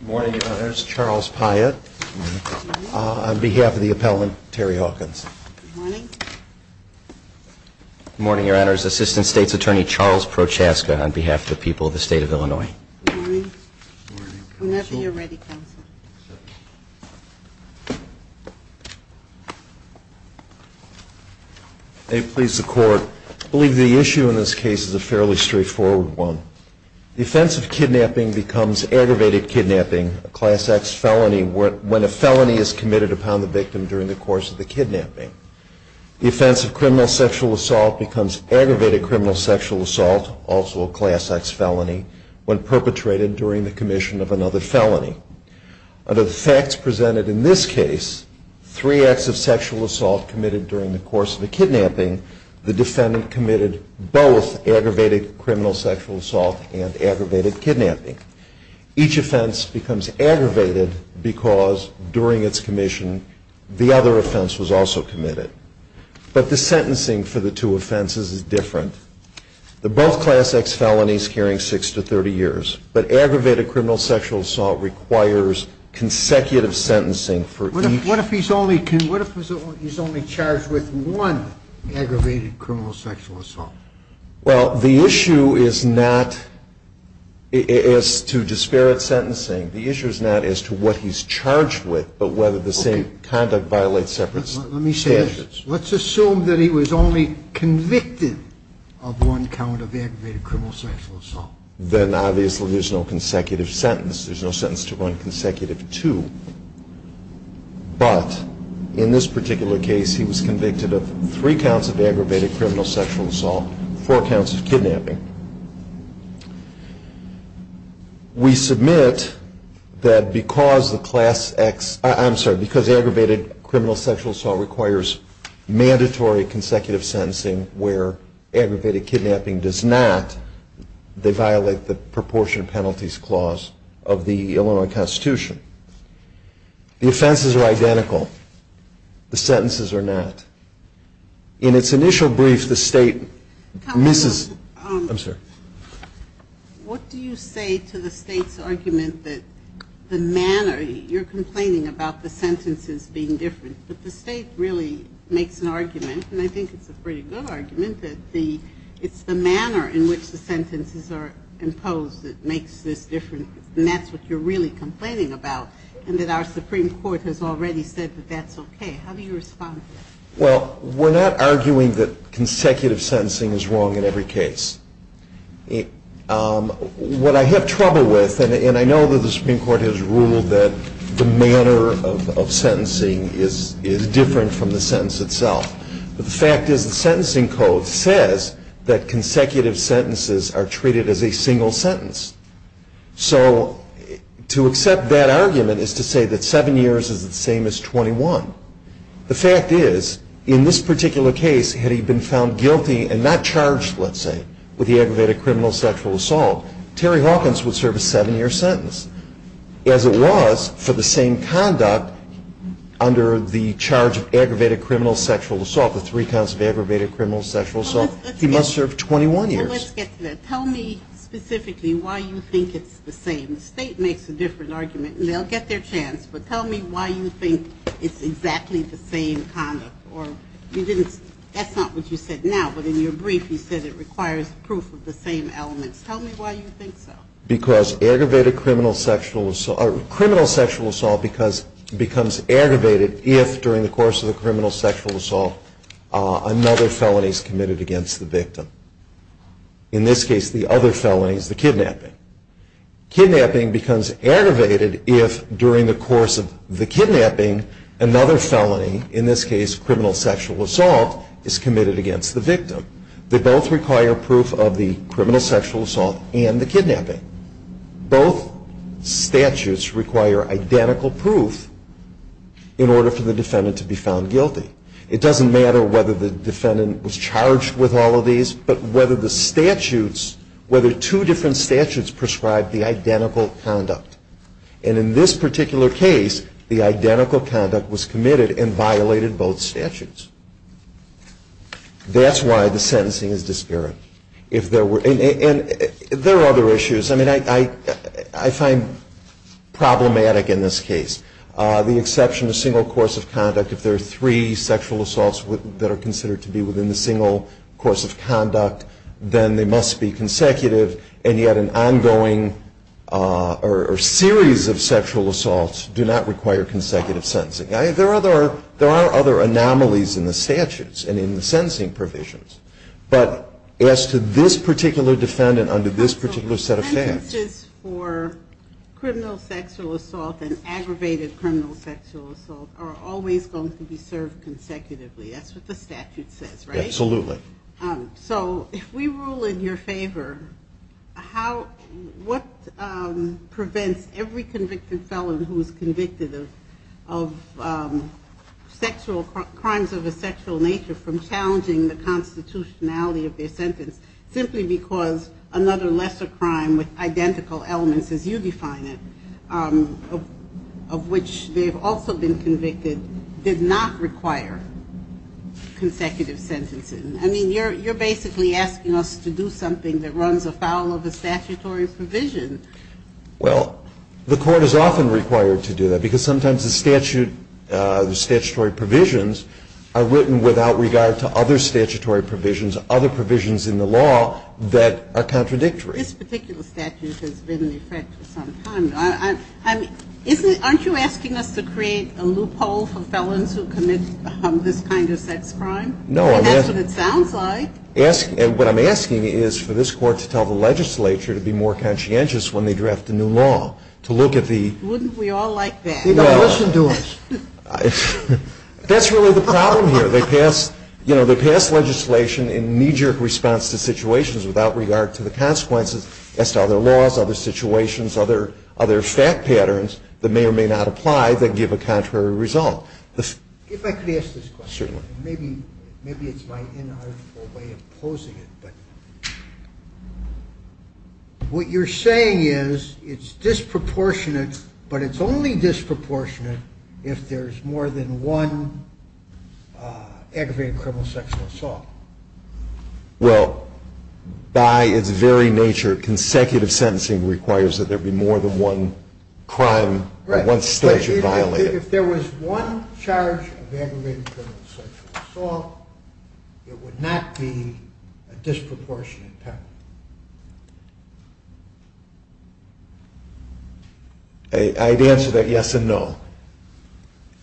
Morning Your Honors, Assistant State's Attorney Charles Prochaska on behalf of the people of the state of Illinois. May it please the court, I believe the issue in this case is a fairly straightforward one. The offense of kidnapping becomes aggravated kidnapping, a class X felony when a felony is committed upon the victim during the course of the kidnapping. The offense of criminal sexual assault becomes aggravated criminal sexual assault, also a felony when perpetrated during the commission of another felony. Under the facts presented in this case, three acts of sexual assault committed during the course of the kidnapping, the defendant committed both aggravated criminal sexual assault and aggravated kidnapping. Each offense becomes aggravated because during its commission the other offense was also committed. But the sentencing for the two offenses is different. The both class X felonies carrying six to 30 years. But aggravated criminal sexual assault requires consecutive sentencing for each. What if he's only charged with one aggravated criminal sexual assault? Well, the issue is not as to disparate sentencing. The issue is not as to what he's charged with, but whether the same conduct violates separate standards. Let me say this. Let's assume that he was only convicted of one count of aggravated criminal sexual assault. Then obviously there's no consecutive sentence. There's no sentence to run consecutive to. But in this particular case, he was convicted of three counts of aggravated criminal sexual assault, four counts of kidnapping. We submit that because the class X, I'm sorry, because aggravated criminal sexual assault requires mandatory consecutive sentencing where aggravated kidnapping does not, they violate the proportion penalties clause of the Illinois Constitution. The offenses are identical. The sentences are not. In its initial brief, the state misses. I'm sorry. What do you say to the state's argument that the manner you're complaining about the sentences being different, that the state really makes an argument, and I think it's a pretty good argument, that it's the manner in which the sentences are imposed that makes this different, and that's what you're really complaining about, and that our Supreme Court has already said that that's okay. How do you respond to that? Well, we're not arguing that consecutive sentencing is wrong in every case. What I have trouble with, and I know that the Supreme Court has ruled that the manner of sentencing is different from the sentence itself, but the fact is the sentencing code says that consecutive sentences are treated as a single sentence. So to accept that argument is to say that seven years is the same as 21. The fact is, in this particular case, had he been found guilty and not charged, let's say, with the aggravated criminal sexual assault, Terry Hawkins would serve a seven-year sentence. As it was, for the same conduct under the charge of aggravated criminal sexual assault, the three counts of aggravated criminal sexual assault, he must serve 21 years. Well, let's get to that. Tell me specifically why you think it's the same. The state makes a different argument, and they'll get their chance, but tell me why you think it's exactly the same conduct, or you didn't, that's not what you said now, but in your brief you said it requires proof of the same elements. Tell me why you think so. Because aggravated criminal sexual assault becomes aggravated if, during the course of the criminal sexual assault, another felony is committed against the victim. In this case, the other felony is the kidnapping. Kidnapping becomes aggravated if, during the course of the kidnapping, another felony, in this case, criminal sexual assault, is committed against the victim. They both require proof of the criminal sexual assault and the kidnapping. Both statutes require identical proof in order for the defendant to be found guilty. It doesn't matter whether the defendant was charged with all of these, but whether the statutes, whether two different statutes prescribe the identical conduct. And in this particular case, the identical conduct was committed and violated both statutes. That's why the sentencing is disparate. If there were, and there are other issues. I mean, I find problematic in this case, the exception to single course of conduct. If there are three sexual assaults that are considered to be within the single course of conduct, then they must be consecutive. And yet an ongoing or series of sexual assaults do not require consecutive sentencing. There are other anomalies in the statutes and in the sentencing provisions. But as to this particular defendant under this particular set of statutes. Sentences for criminal sexual assault and aggravated criminal sexual assault are always going to be served consecutively. That's what the statute says, right? Absolutely. So if we rule in your favor, what prevents every convicted felon who is convicted of crimes of a sexual nature from challenging the constitutionality of their sentence simply because another lesser crime with identical elements as you define it, of which they've also been convicted, did not require consecutive sentencing. I mean, you're basically asking us to do something that runs afoul of the statutory provision. Well, the court is often required to do that. Because sometimes the statutory provisions are written without regard to other statutory provisions, other provisions in the law that are contradictory. This particular statute has been in effect for some time. Aren't you asking us to create a loophole for felons who commit this kind of sex crime? No. That's what it sounds like. And what I'm asking is for this court to tell the legislature to be more conscientious when they draft a new law, to look at the- Wouldn't we all like that? They've got to listen to us. That's really the problem here. They pass legislation in knee-jerk response to situations without regard to the consequences as to other laws, other situations, other fact patterns that may or may not apply that give a contrary result. If I could ask this question. Certainly. Maybe it's my inarticulate way of posing it. But what you're saying is it's disproportionate, but it's only disproportionate if there's more than one aggravated criminal sexual assault. Well, by its very nature, consecutive sentencing requires that there be more than one crime or one statute violated. If there was one charge of aggravated criminal sexual assault, it would not be a disproportionate pattern. I'd answer that yes and no.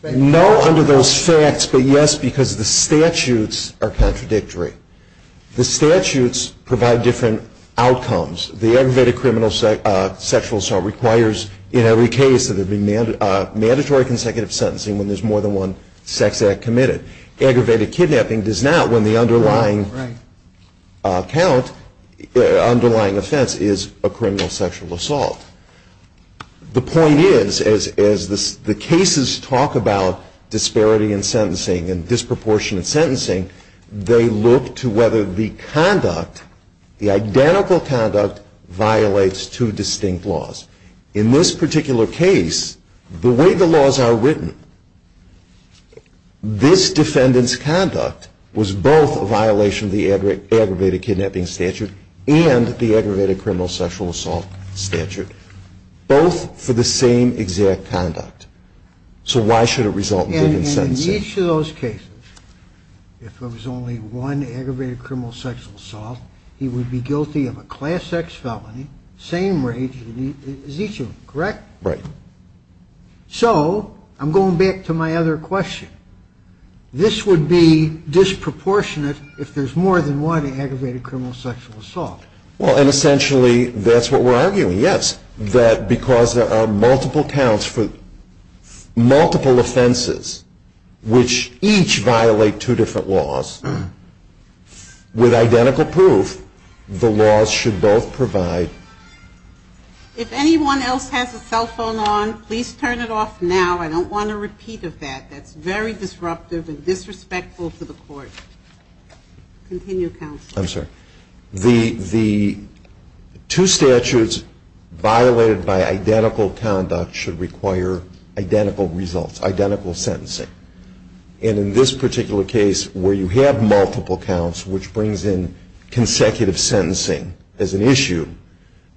No under those facts, but yes, because the statutes are contradictory. The statutes provide different outcomes. The aggravated criminal sexual assault requires, in every case, that there be mandatory consecutive sentencing when there's more than one sex act committed. Aggravated kidnapping does not when the underlying count, underlying offense, is a criminal sexual assault. The point is, as the cases talk about disparity in sentencing and disproportionate sentencing, they look to whether the conduct, the identical conduct, violates two distinct laws. In this particular case, the way the laws are written, this defendant's conduct was both a violation of the aggravated kidnapping statute and the aggravated criminal sexual assault statute, both for the same exact conduct. So why should it result in consecutive sentencing? And in each of those cases, if there was only one aggravated criminal sexual assault, he would be guilty of a class X felony, same rate as each of them, correct? Right. So I'm going back to my other question. This would be disproportionate if there's more than one aggravated criminal sexual assault. Well, and essentially, that's what we're arguing, yes. That because there are multiple counts for multiple offenses, which each violate two different laws, with identical proof, the laws should both provide. If anyone else has a cell phone on, please turn it off now. I don't want a repeat of that. That's very disruptive and disrespectful to the court. Continue, counsel. I'm sorry. The two statutes violated by identical conduct should require identical results, identical sentencing. And in this particular case, where you have multiple counts, which brings in consecutive sentencing as an issue,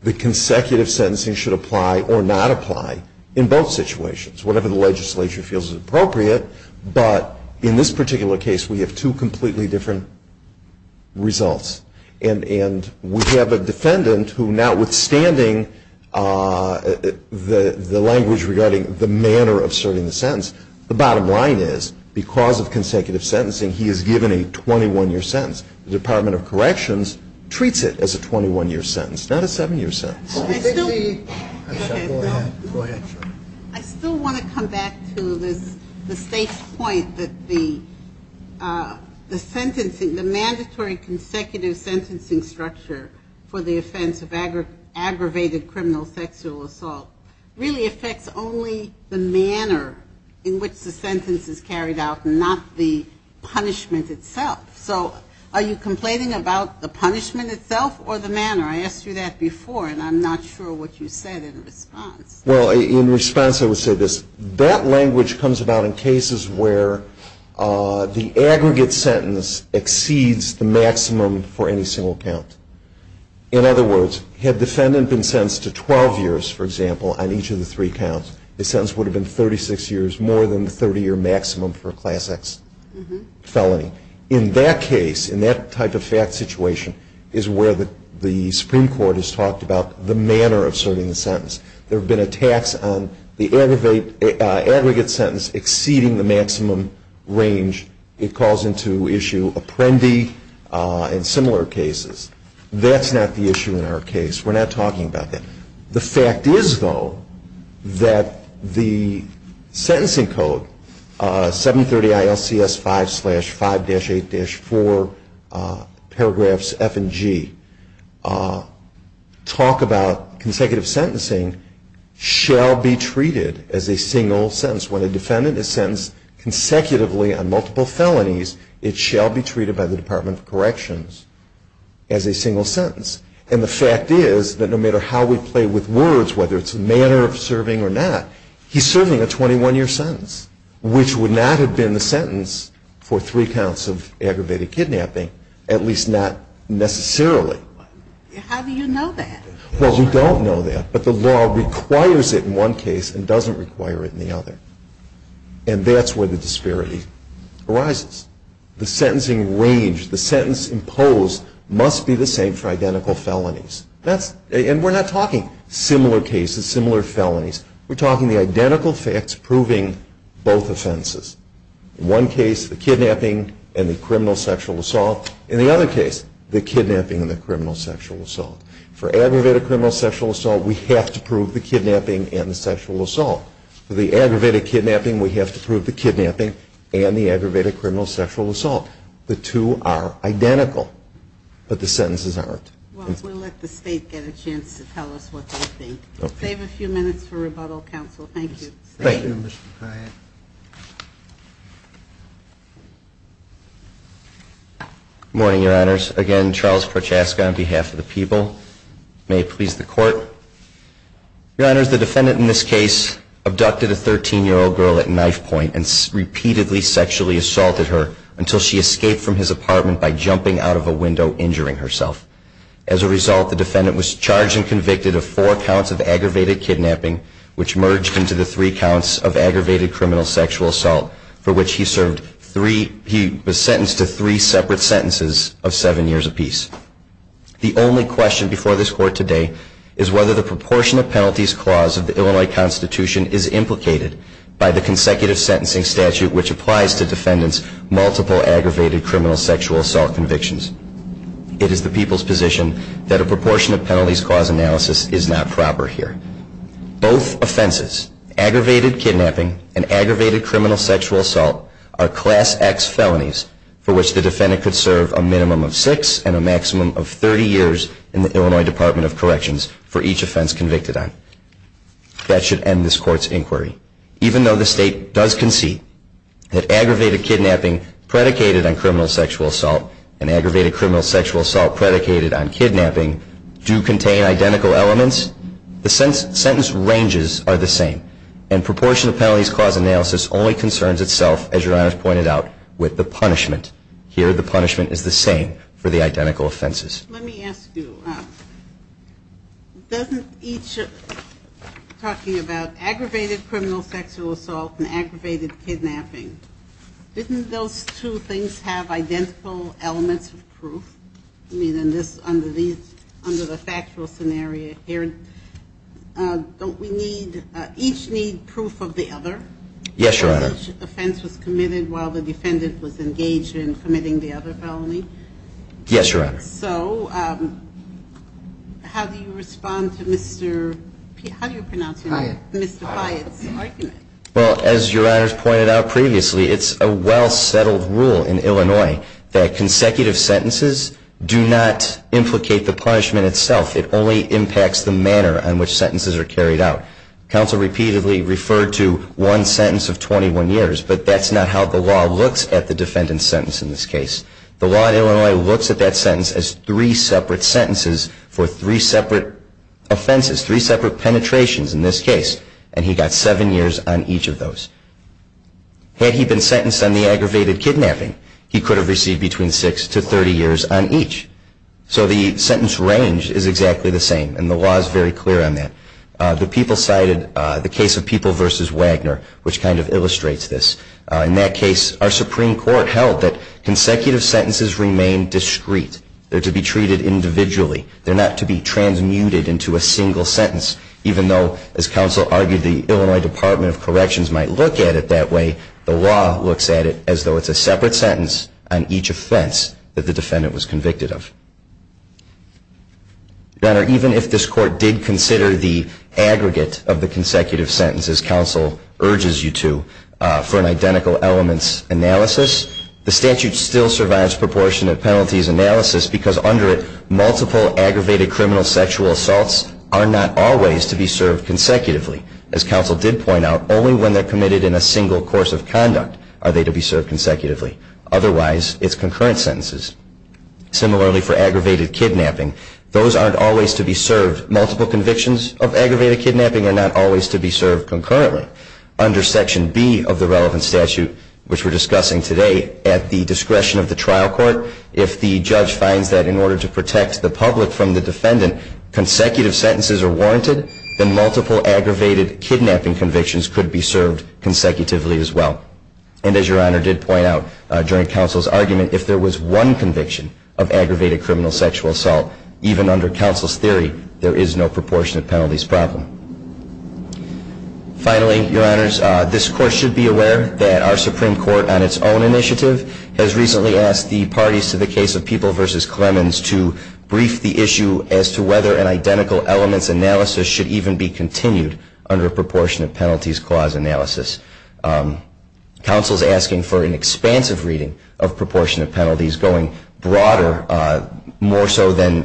the consecutive sentencing should apply or not apply in both situations, whatever the legislature feels is appropriate. But in this particular case, we have two completely different results. And we have a defendant who, notwithstanding the language regarding the manner of serving the sentence, the bottom line is, because of consecutive sentencing, he is given a 21-year sentence. The Department of Corrections treats it as a 21-year sentence, not a seven-year sentence. I still want to come back to the state's point that the mandatory consecutive sentencing structure for the offense of aggravated criminal sexual assault really affects only the manner in which the sentence is carried out, not the punishment itself. So are you complaining about the punishment itself or the manner? I asked you that before, and I'm not sure what you said in response. Well, in response, I would say this. That language comes about in cases where the aggregate sentence exceeds the maximum for any single count. In other words, had the defendant been sentenced to 12 years, for example, on each of the three counts, the sentence would have been 36 years, more than the 30-year maximum for a class X felony. In that case, in that type of fact situation, is where the Supreme Court has talked about the manner of serving the sentence. There have been attacks on the aggregate sentence exceeding the maximum range. It calls into issue apprendee and similar cases. That's not the issue in our case. We're not talking about that. The fact is, though, that the sentencing code, 730 ILCS 5-5-8-4, paragraphs F and G, talk about consecutive sentencing shall be treated as a single sentence. When a defendant is sentenced consecutively on multiple felonies, it shall be treated by the Department of Corrections as a single sentence. And the fact is that no matter how we play with words, whether it's a manner of serving or not, he's serving a 21-year sentence, which would not have been the sentence for three counts of aggravated kidnapping, at least not necessarily. How do you know that? Well, we don't know that. But the law requires it in one case and doesn't require it in the other. And that's where the disparity arises. The sentencing range, the sentence imposed, must be the same for identical felonies. And we're not talking similar cases, similar felonies. We're talking the identical facts proving both offenses. In one case, the kidnapping and the criminal sexual assault. In the other case, the kidnapping and the criminal sexual assault. For aggravated criminal sexual assault, we have to prove the kidnapping and the sexual assault. For the aggravated kidnapping, we have to prove the kidnapping and the aggravated criminal sexual assault. The two are identical, but the sentences aren't. Well, we'll let the state get a chance to tell us what they think. Save a few minutes for rebuttal, counsel. Thank you. Thank you, Mr. Hyatt. Morning, your honors. Again, Charles Prochaska on behalf of the people. May it please the court. Your honors, the defendant in this case abducted a 13-year-old girl at knifepoint and repeatedly sexually assaulted her until she escaped from his apartment by jumping out of a window, injuring herself. As a result, the defendant was charged and convicted of four counts of aggravated kidnapping, which merged into the three counts of aggravated criminal sexual assault, for which he was sentenced to three separate sentences of seven years apiece. The only question before this court today is whether the proportionate penalties clause of the Illinois Constitution is implicated by the consecutive sentencing statute, which applies to defendants' multiple aggravated criminal sexual assault convictions. It is the people's position that a proportionate penalties clause analysis is not proper here. Both offenses, aggravated kidnapping and aggravated criminal sexual assault, are class X felonies for which the defendant could serve a minimum of six and a maximum of 30 years in the Illinois Department of Corrections for each offense convicted on. That should end this court's inquiry. Even though the state does concede that aggravated kidnapping predicated on criminal sexual assault and aggravated criminal sexual assault predicated on kidnapping do contain identical elements, the sentence ranges are the same. And proportionate penalties clause analysis only concerns itself, as Your Honor has pointed out, with the punishment. Here, the punishment is the same for the identical offenses. Let me ask you, doesn't each, talking about aggravated criminal sexual assault and aggravated kidnapping, didn't those two things have identical elements of proof? I mean, in this, under the factual scenario here, don't we need, each need proof of the other? Yes, Your Honor. Offense was committed while the defendant was engaged in committing the other felony? Yes, Your Honor. So how do you respond to Mr. Piotr's argument? Well, as Your Honor's pointed out previously, it's a well-settled rule in Illinois that consecutive sentences do not implicate the punishment itself. It only impacts the manner in which sentences are carried out. Counsel repeatedly referred to one sentence of 21 years, but that's not how the law looks at the defendant's sentence in this case. The law in Illinois looks at that sentence as three separate sentences for three separate offenses, three separate penetrations in this case, and he got seven years on each of those. Had he been sentenced on the aggravated kidnapping, he could have received between six to 30 years on each. So the sentence range is exactly the same, and the law is very clear on that. The people cited the case of People versus Wagner, which kind of illustrates this. In that case, our Supreme Court held that consecutive sentences remain discrete. They're to be treated individually. They're not to be transmuted into a single sentence, even though, as counsel argued, the Illinois Department of Corrections might look at it that way. The law looks at it as though it's a separate sentence on each offense that the defendant was convicted of. Your Honor, even if this court did consider the aggregate of the consecutive sentences counsel urges you to for an identical elements analysis, the statute still survives proportionate penalties analysis, because under it, multiple aggravated criminal sexual assaults are not always to be served consecutively. As counsel did point out, only when they're committed in a single course of conduct are they to be served consecutively. Otherwise, it's concurrent sentences. Similarly, for aggravated kidnapping, those aren't always to be served. Multiple convictions of aggravated kidnapping are not always to be served concurrently. Under Section B of the relevant statute, which we're discussing today, at the discretion of the trial court, if the judge finds that in order to protect the public from the defendant, consecutive sentences are warranted, then multiple aggravated kidnapping convictions could be served consecutively as well. And as Your Honor did point out during counsel's argument, if there was one conviction of aggravated criminal sexual assault, even under counsel's theory, there is no proportionate penalties problem. Finally, Your Honors, this court should be aware that our Supreme Court, on its own initiative, has recently asked the parties to the case of People versus Clemens to brief the issue as to whether an identical elements analysis should even be continued under a proportionate penalties clause analysis. Counsel's asking for an expansive reading of proportionate penalties going broader, more so than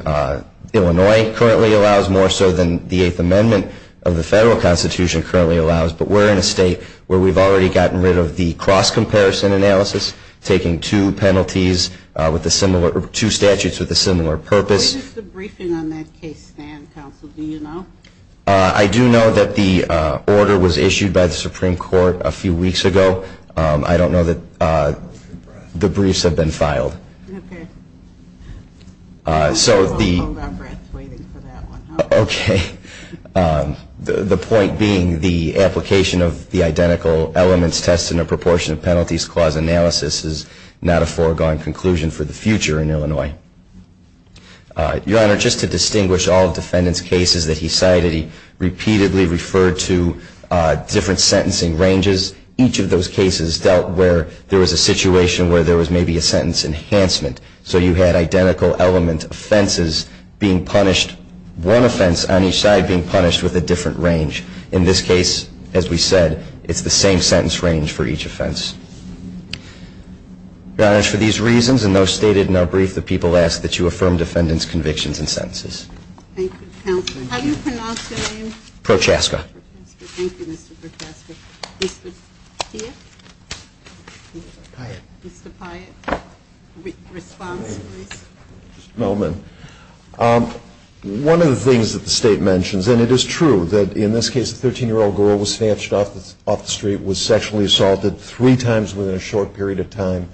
Illinois currently allows, more so than the Eighth Amendment of the federal Constitution currently allows. But we're in a state where we've already gotten rid of the cross-comparison analysis, taking two penalties, two statutes with a similar purpose. When is the briefing on that case, Stan, counsel? Do you know? I do know that the order was issued by the Supreme Court a few weeks ago. I don't know that the briefs have been filed. OK. So the- I won't hold our breath waiting for that one. OK. The point being the application of the identical elements test in a proportionate penalties clause analysis is not a foregone conclusion for the future in Illinois. Your Honor, just to distinguish all defendants' cases that he cited, he repeatedly referred to different sentencing ranges. Each of those cases dealt where there was a situation where there was maybe a sentence enhancement. So you had identical element offenses being punished, one offense on each side being punished with a different range. In this case, as we said, it's the same sentence range for each offense. Your Honor, for these reasons and those stated in our brief, the people ask that you affirm defendants' convictions and sentences. Thank you, counsel. How do you pronounce your name? Prochaska. Thank you, Mr. Prochaska. Mr. Steele? Piatt. Mr. Piatt. Response, please. Just a moment. One of the things that the state mentions, and it is true that in this case, a 13-year-old girl was snatched off the street, was sexually assaulted three times within a short period of time.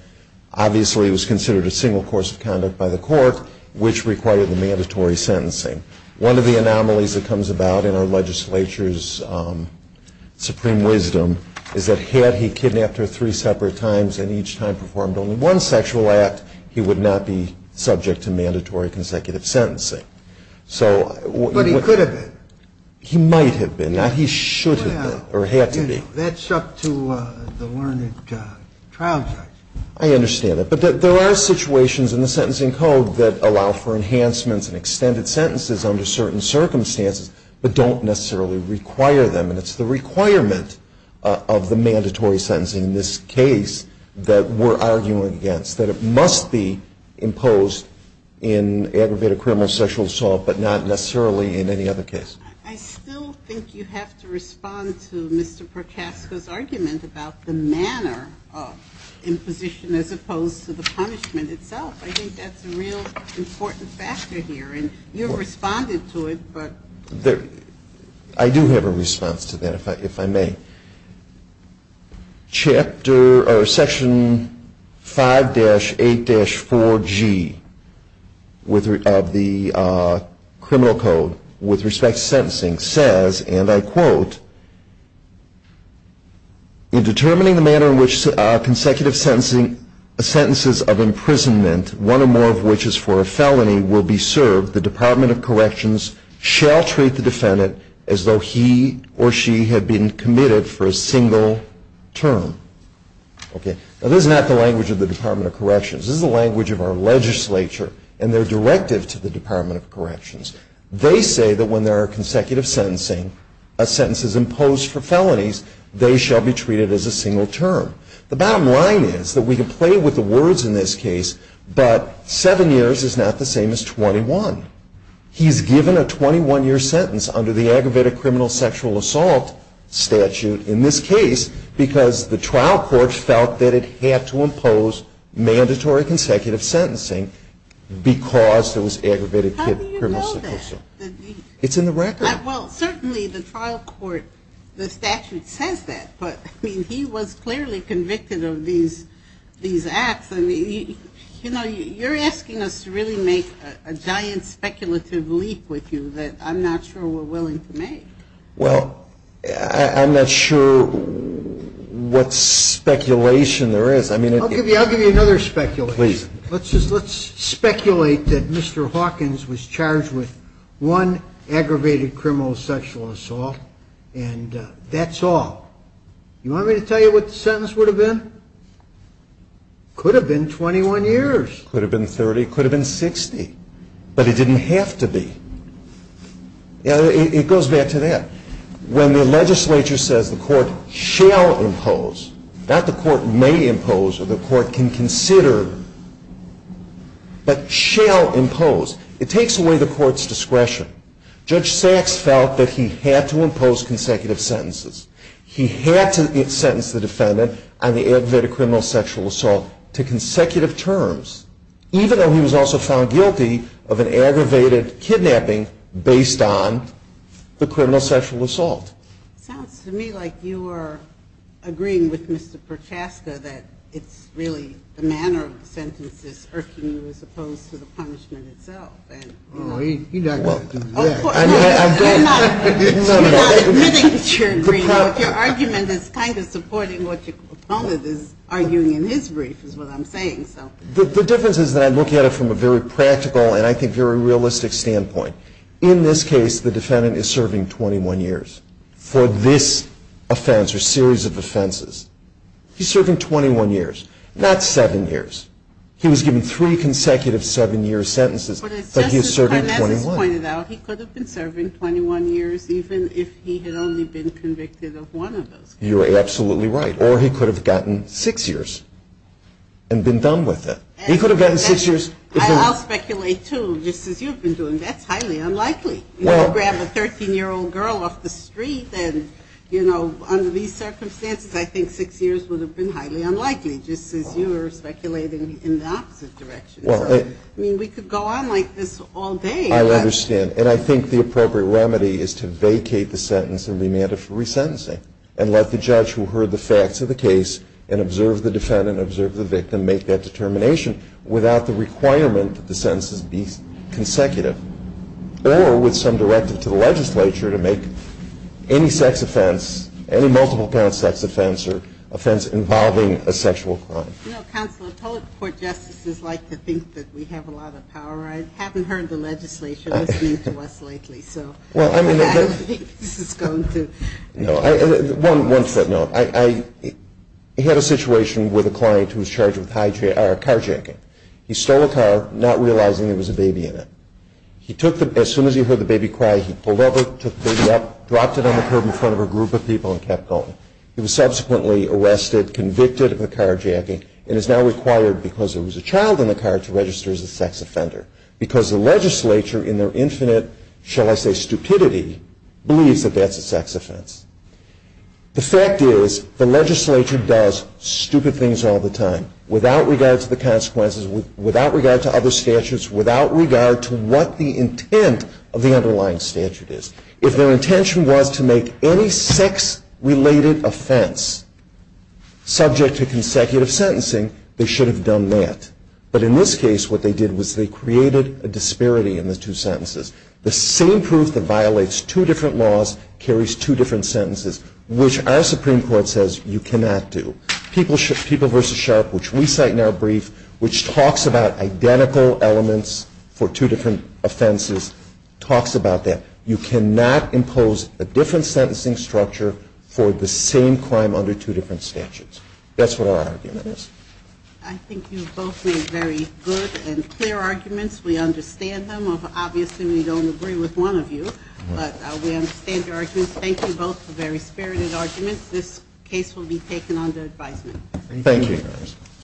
Obviously, it was considered a single course of conduct by the court, which required the mandatory sentencing. One of the anomalies that comes about in our legislature's supreme wisdom is that had he kidnapped her three separate times and each time performed only one sexual act, he would not be subject to mandatory consecutive sentencing. But he could have been. He might have been, not he should have been or had to be. That's up to the learned trial judge. I understand that. But there are situations in the sentencing code that allow for enhancements and extended sentences under certain circumstances, but don't necessarily require them. And it's the requirement of the mandatory sentencing in this case that we're arguing against, that it must be imposed in aggravated criminal sexual assault, but not necessarily in any other case. I still think you have to respond to Mr. Procasco's argument about the manner of imposition as opposed to the punishment itself. I think that's a real important factor here. And you've responded to it, but there. I do have a response to that, if I may. Section 5-8-4G of the criminal code with respect to sentencing says, and I quote, in determining the manner in which consecutive sentences of imprisonment, one or more of which is for a felony, will be served, the Department of Corrections shall treat the defendant as though he or she had been committed for a single term. Now, this is not the language of the Department of Corrections. This is the language of our legislature and their directive to the Department of Corrections. They say that when there are consecutive sentencing, a sentence is imposed for felonies, they shall be treated as a single term. The bottom line is that we can play with the words in this case, but seven years is not the same as 21. He's given a 21-year sentence under the aggravated criminal sexual assault statute in this case because the trial court felt that it had to impose mandatory consecutive sentencing because there was aggravated criminal sexual assault. How do you know that? It's in the record. Well, certainly the trial court, the statute says that, but he was clearly convicted of these acts. I mean, you're asking us to really make a giant speculative leak with you that I'm not sure we're willing to make. Well, I'm not sure what speculation there is. I'll give you another speculation. Let's speculate that Mr. Hawkins was charged with one aggravated criminal sexual assault, and that's all. You want me to tell you what the sentence would have been? Could have been 21 years. Could have been 30. Could have been 60. But it didn't have to be. It goes back to that. When the legislature says the court shall impose, not the court may impose or the court can consider, but shall impose, it takes away the court's discretion. Judge Sachs felt that he had to impose consecutive sentences. He had to sentence the defendant on the aggravated criminal sexual assault to consecutive terms, even though he was also found guilty of an aggravated kidnapping based on the criminal sexual assault. Sounds to me like you are agreeing with Mr. Perchaska that it's really the manner of the sentences urging you as opposed to the punishment itself. And, you know. He's not going to do that. Well, of course not. You're not admitting that you're agreeing. Your argument is kind of supporting what your opponent is arguing in his brief, is what I'm saying, so. The difference is that I look at it from a very practical and, I think, very realistic standpoint. In this case, the defendant is serving 21 years for this offense or series of offenses. He's serving 21 years, not seven years. He was given three consecutive seven-year sentences, but he is serving 21. But as Justice Carles has pointed out, he could have been serving 21 years even if he had only been convicted of one of those. You are absolutely right. Or he could have gotten six years and been done with it. He could have gotten six years. I'll speculate, too, just as you've been doing. That's highly unlikely. You know, grab a 13-year-old girl off the street and, you know, under these circumstances, I think six years would have been highly unlikely, just as you were speculating in the opposite direction. I mean, we could go on like this all day. I understand. And I think the appropriate remedy is to vacate the sentence and remand it for resentencing and let the judge who heard the facts of the case and observed the defendant, observed the victim, make that determination without the requirement that the sentences be consecutive or with some directive to the legislature to make any sex offense, any multiple parent sex offense or offense involving a sexual crime. You know, Counselor, public court justices like to think that we have a lot of power. I haven't heard the legislature listening to us lately, so I don't think this is going to. One footnote. I had a situation with a client who was charged with carjacking. He stole a car, not realizing there was a baby in it. As soon as he heard the baby cry, he pulled up, took the baby up, dropped it on the curb in front of a group of people, and kept going. He was subsequently arrested, convicted of the carjacking, and is now required, because there was a child in the car, to register as a sex offender. Because the legislature, in their infinite, shall I say, stupidity, believes that that's a sex offense. The fact is, the legislature does stupid things all the time, without regard to the consequences, without regard to other statutes, without regard to what the intent of the underlying statute is. If their intention was to make any sex-related offense subject to consecutive sentencing, they should have done that. But in this case, what they did was they created a disparity in the two sentences. The same proof that violates two different laws carries two different sentences, which our Supreme Court says you cannot do. People v. Sharp, which we cite in our brief, which talks about identical elements for two different offenses, talks about that. You cannot impose a different sentencing structure for the same crime under two different statutes. That's what our argument is. I think you both made very good and clear arguments. We understand them. Obviously, we don't agree with one of you. But we understand your arguments. Thank you both for very spirited arguments. This case will be taken under advisement. Thank you.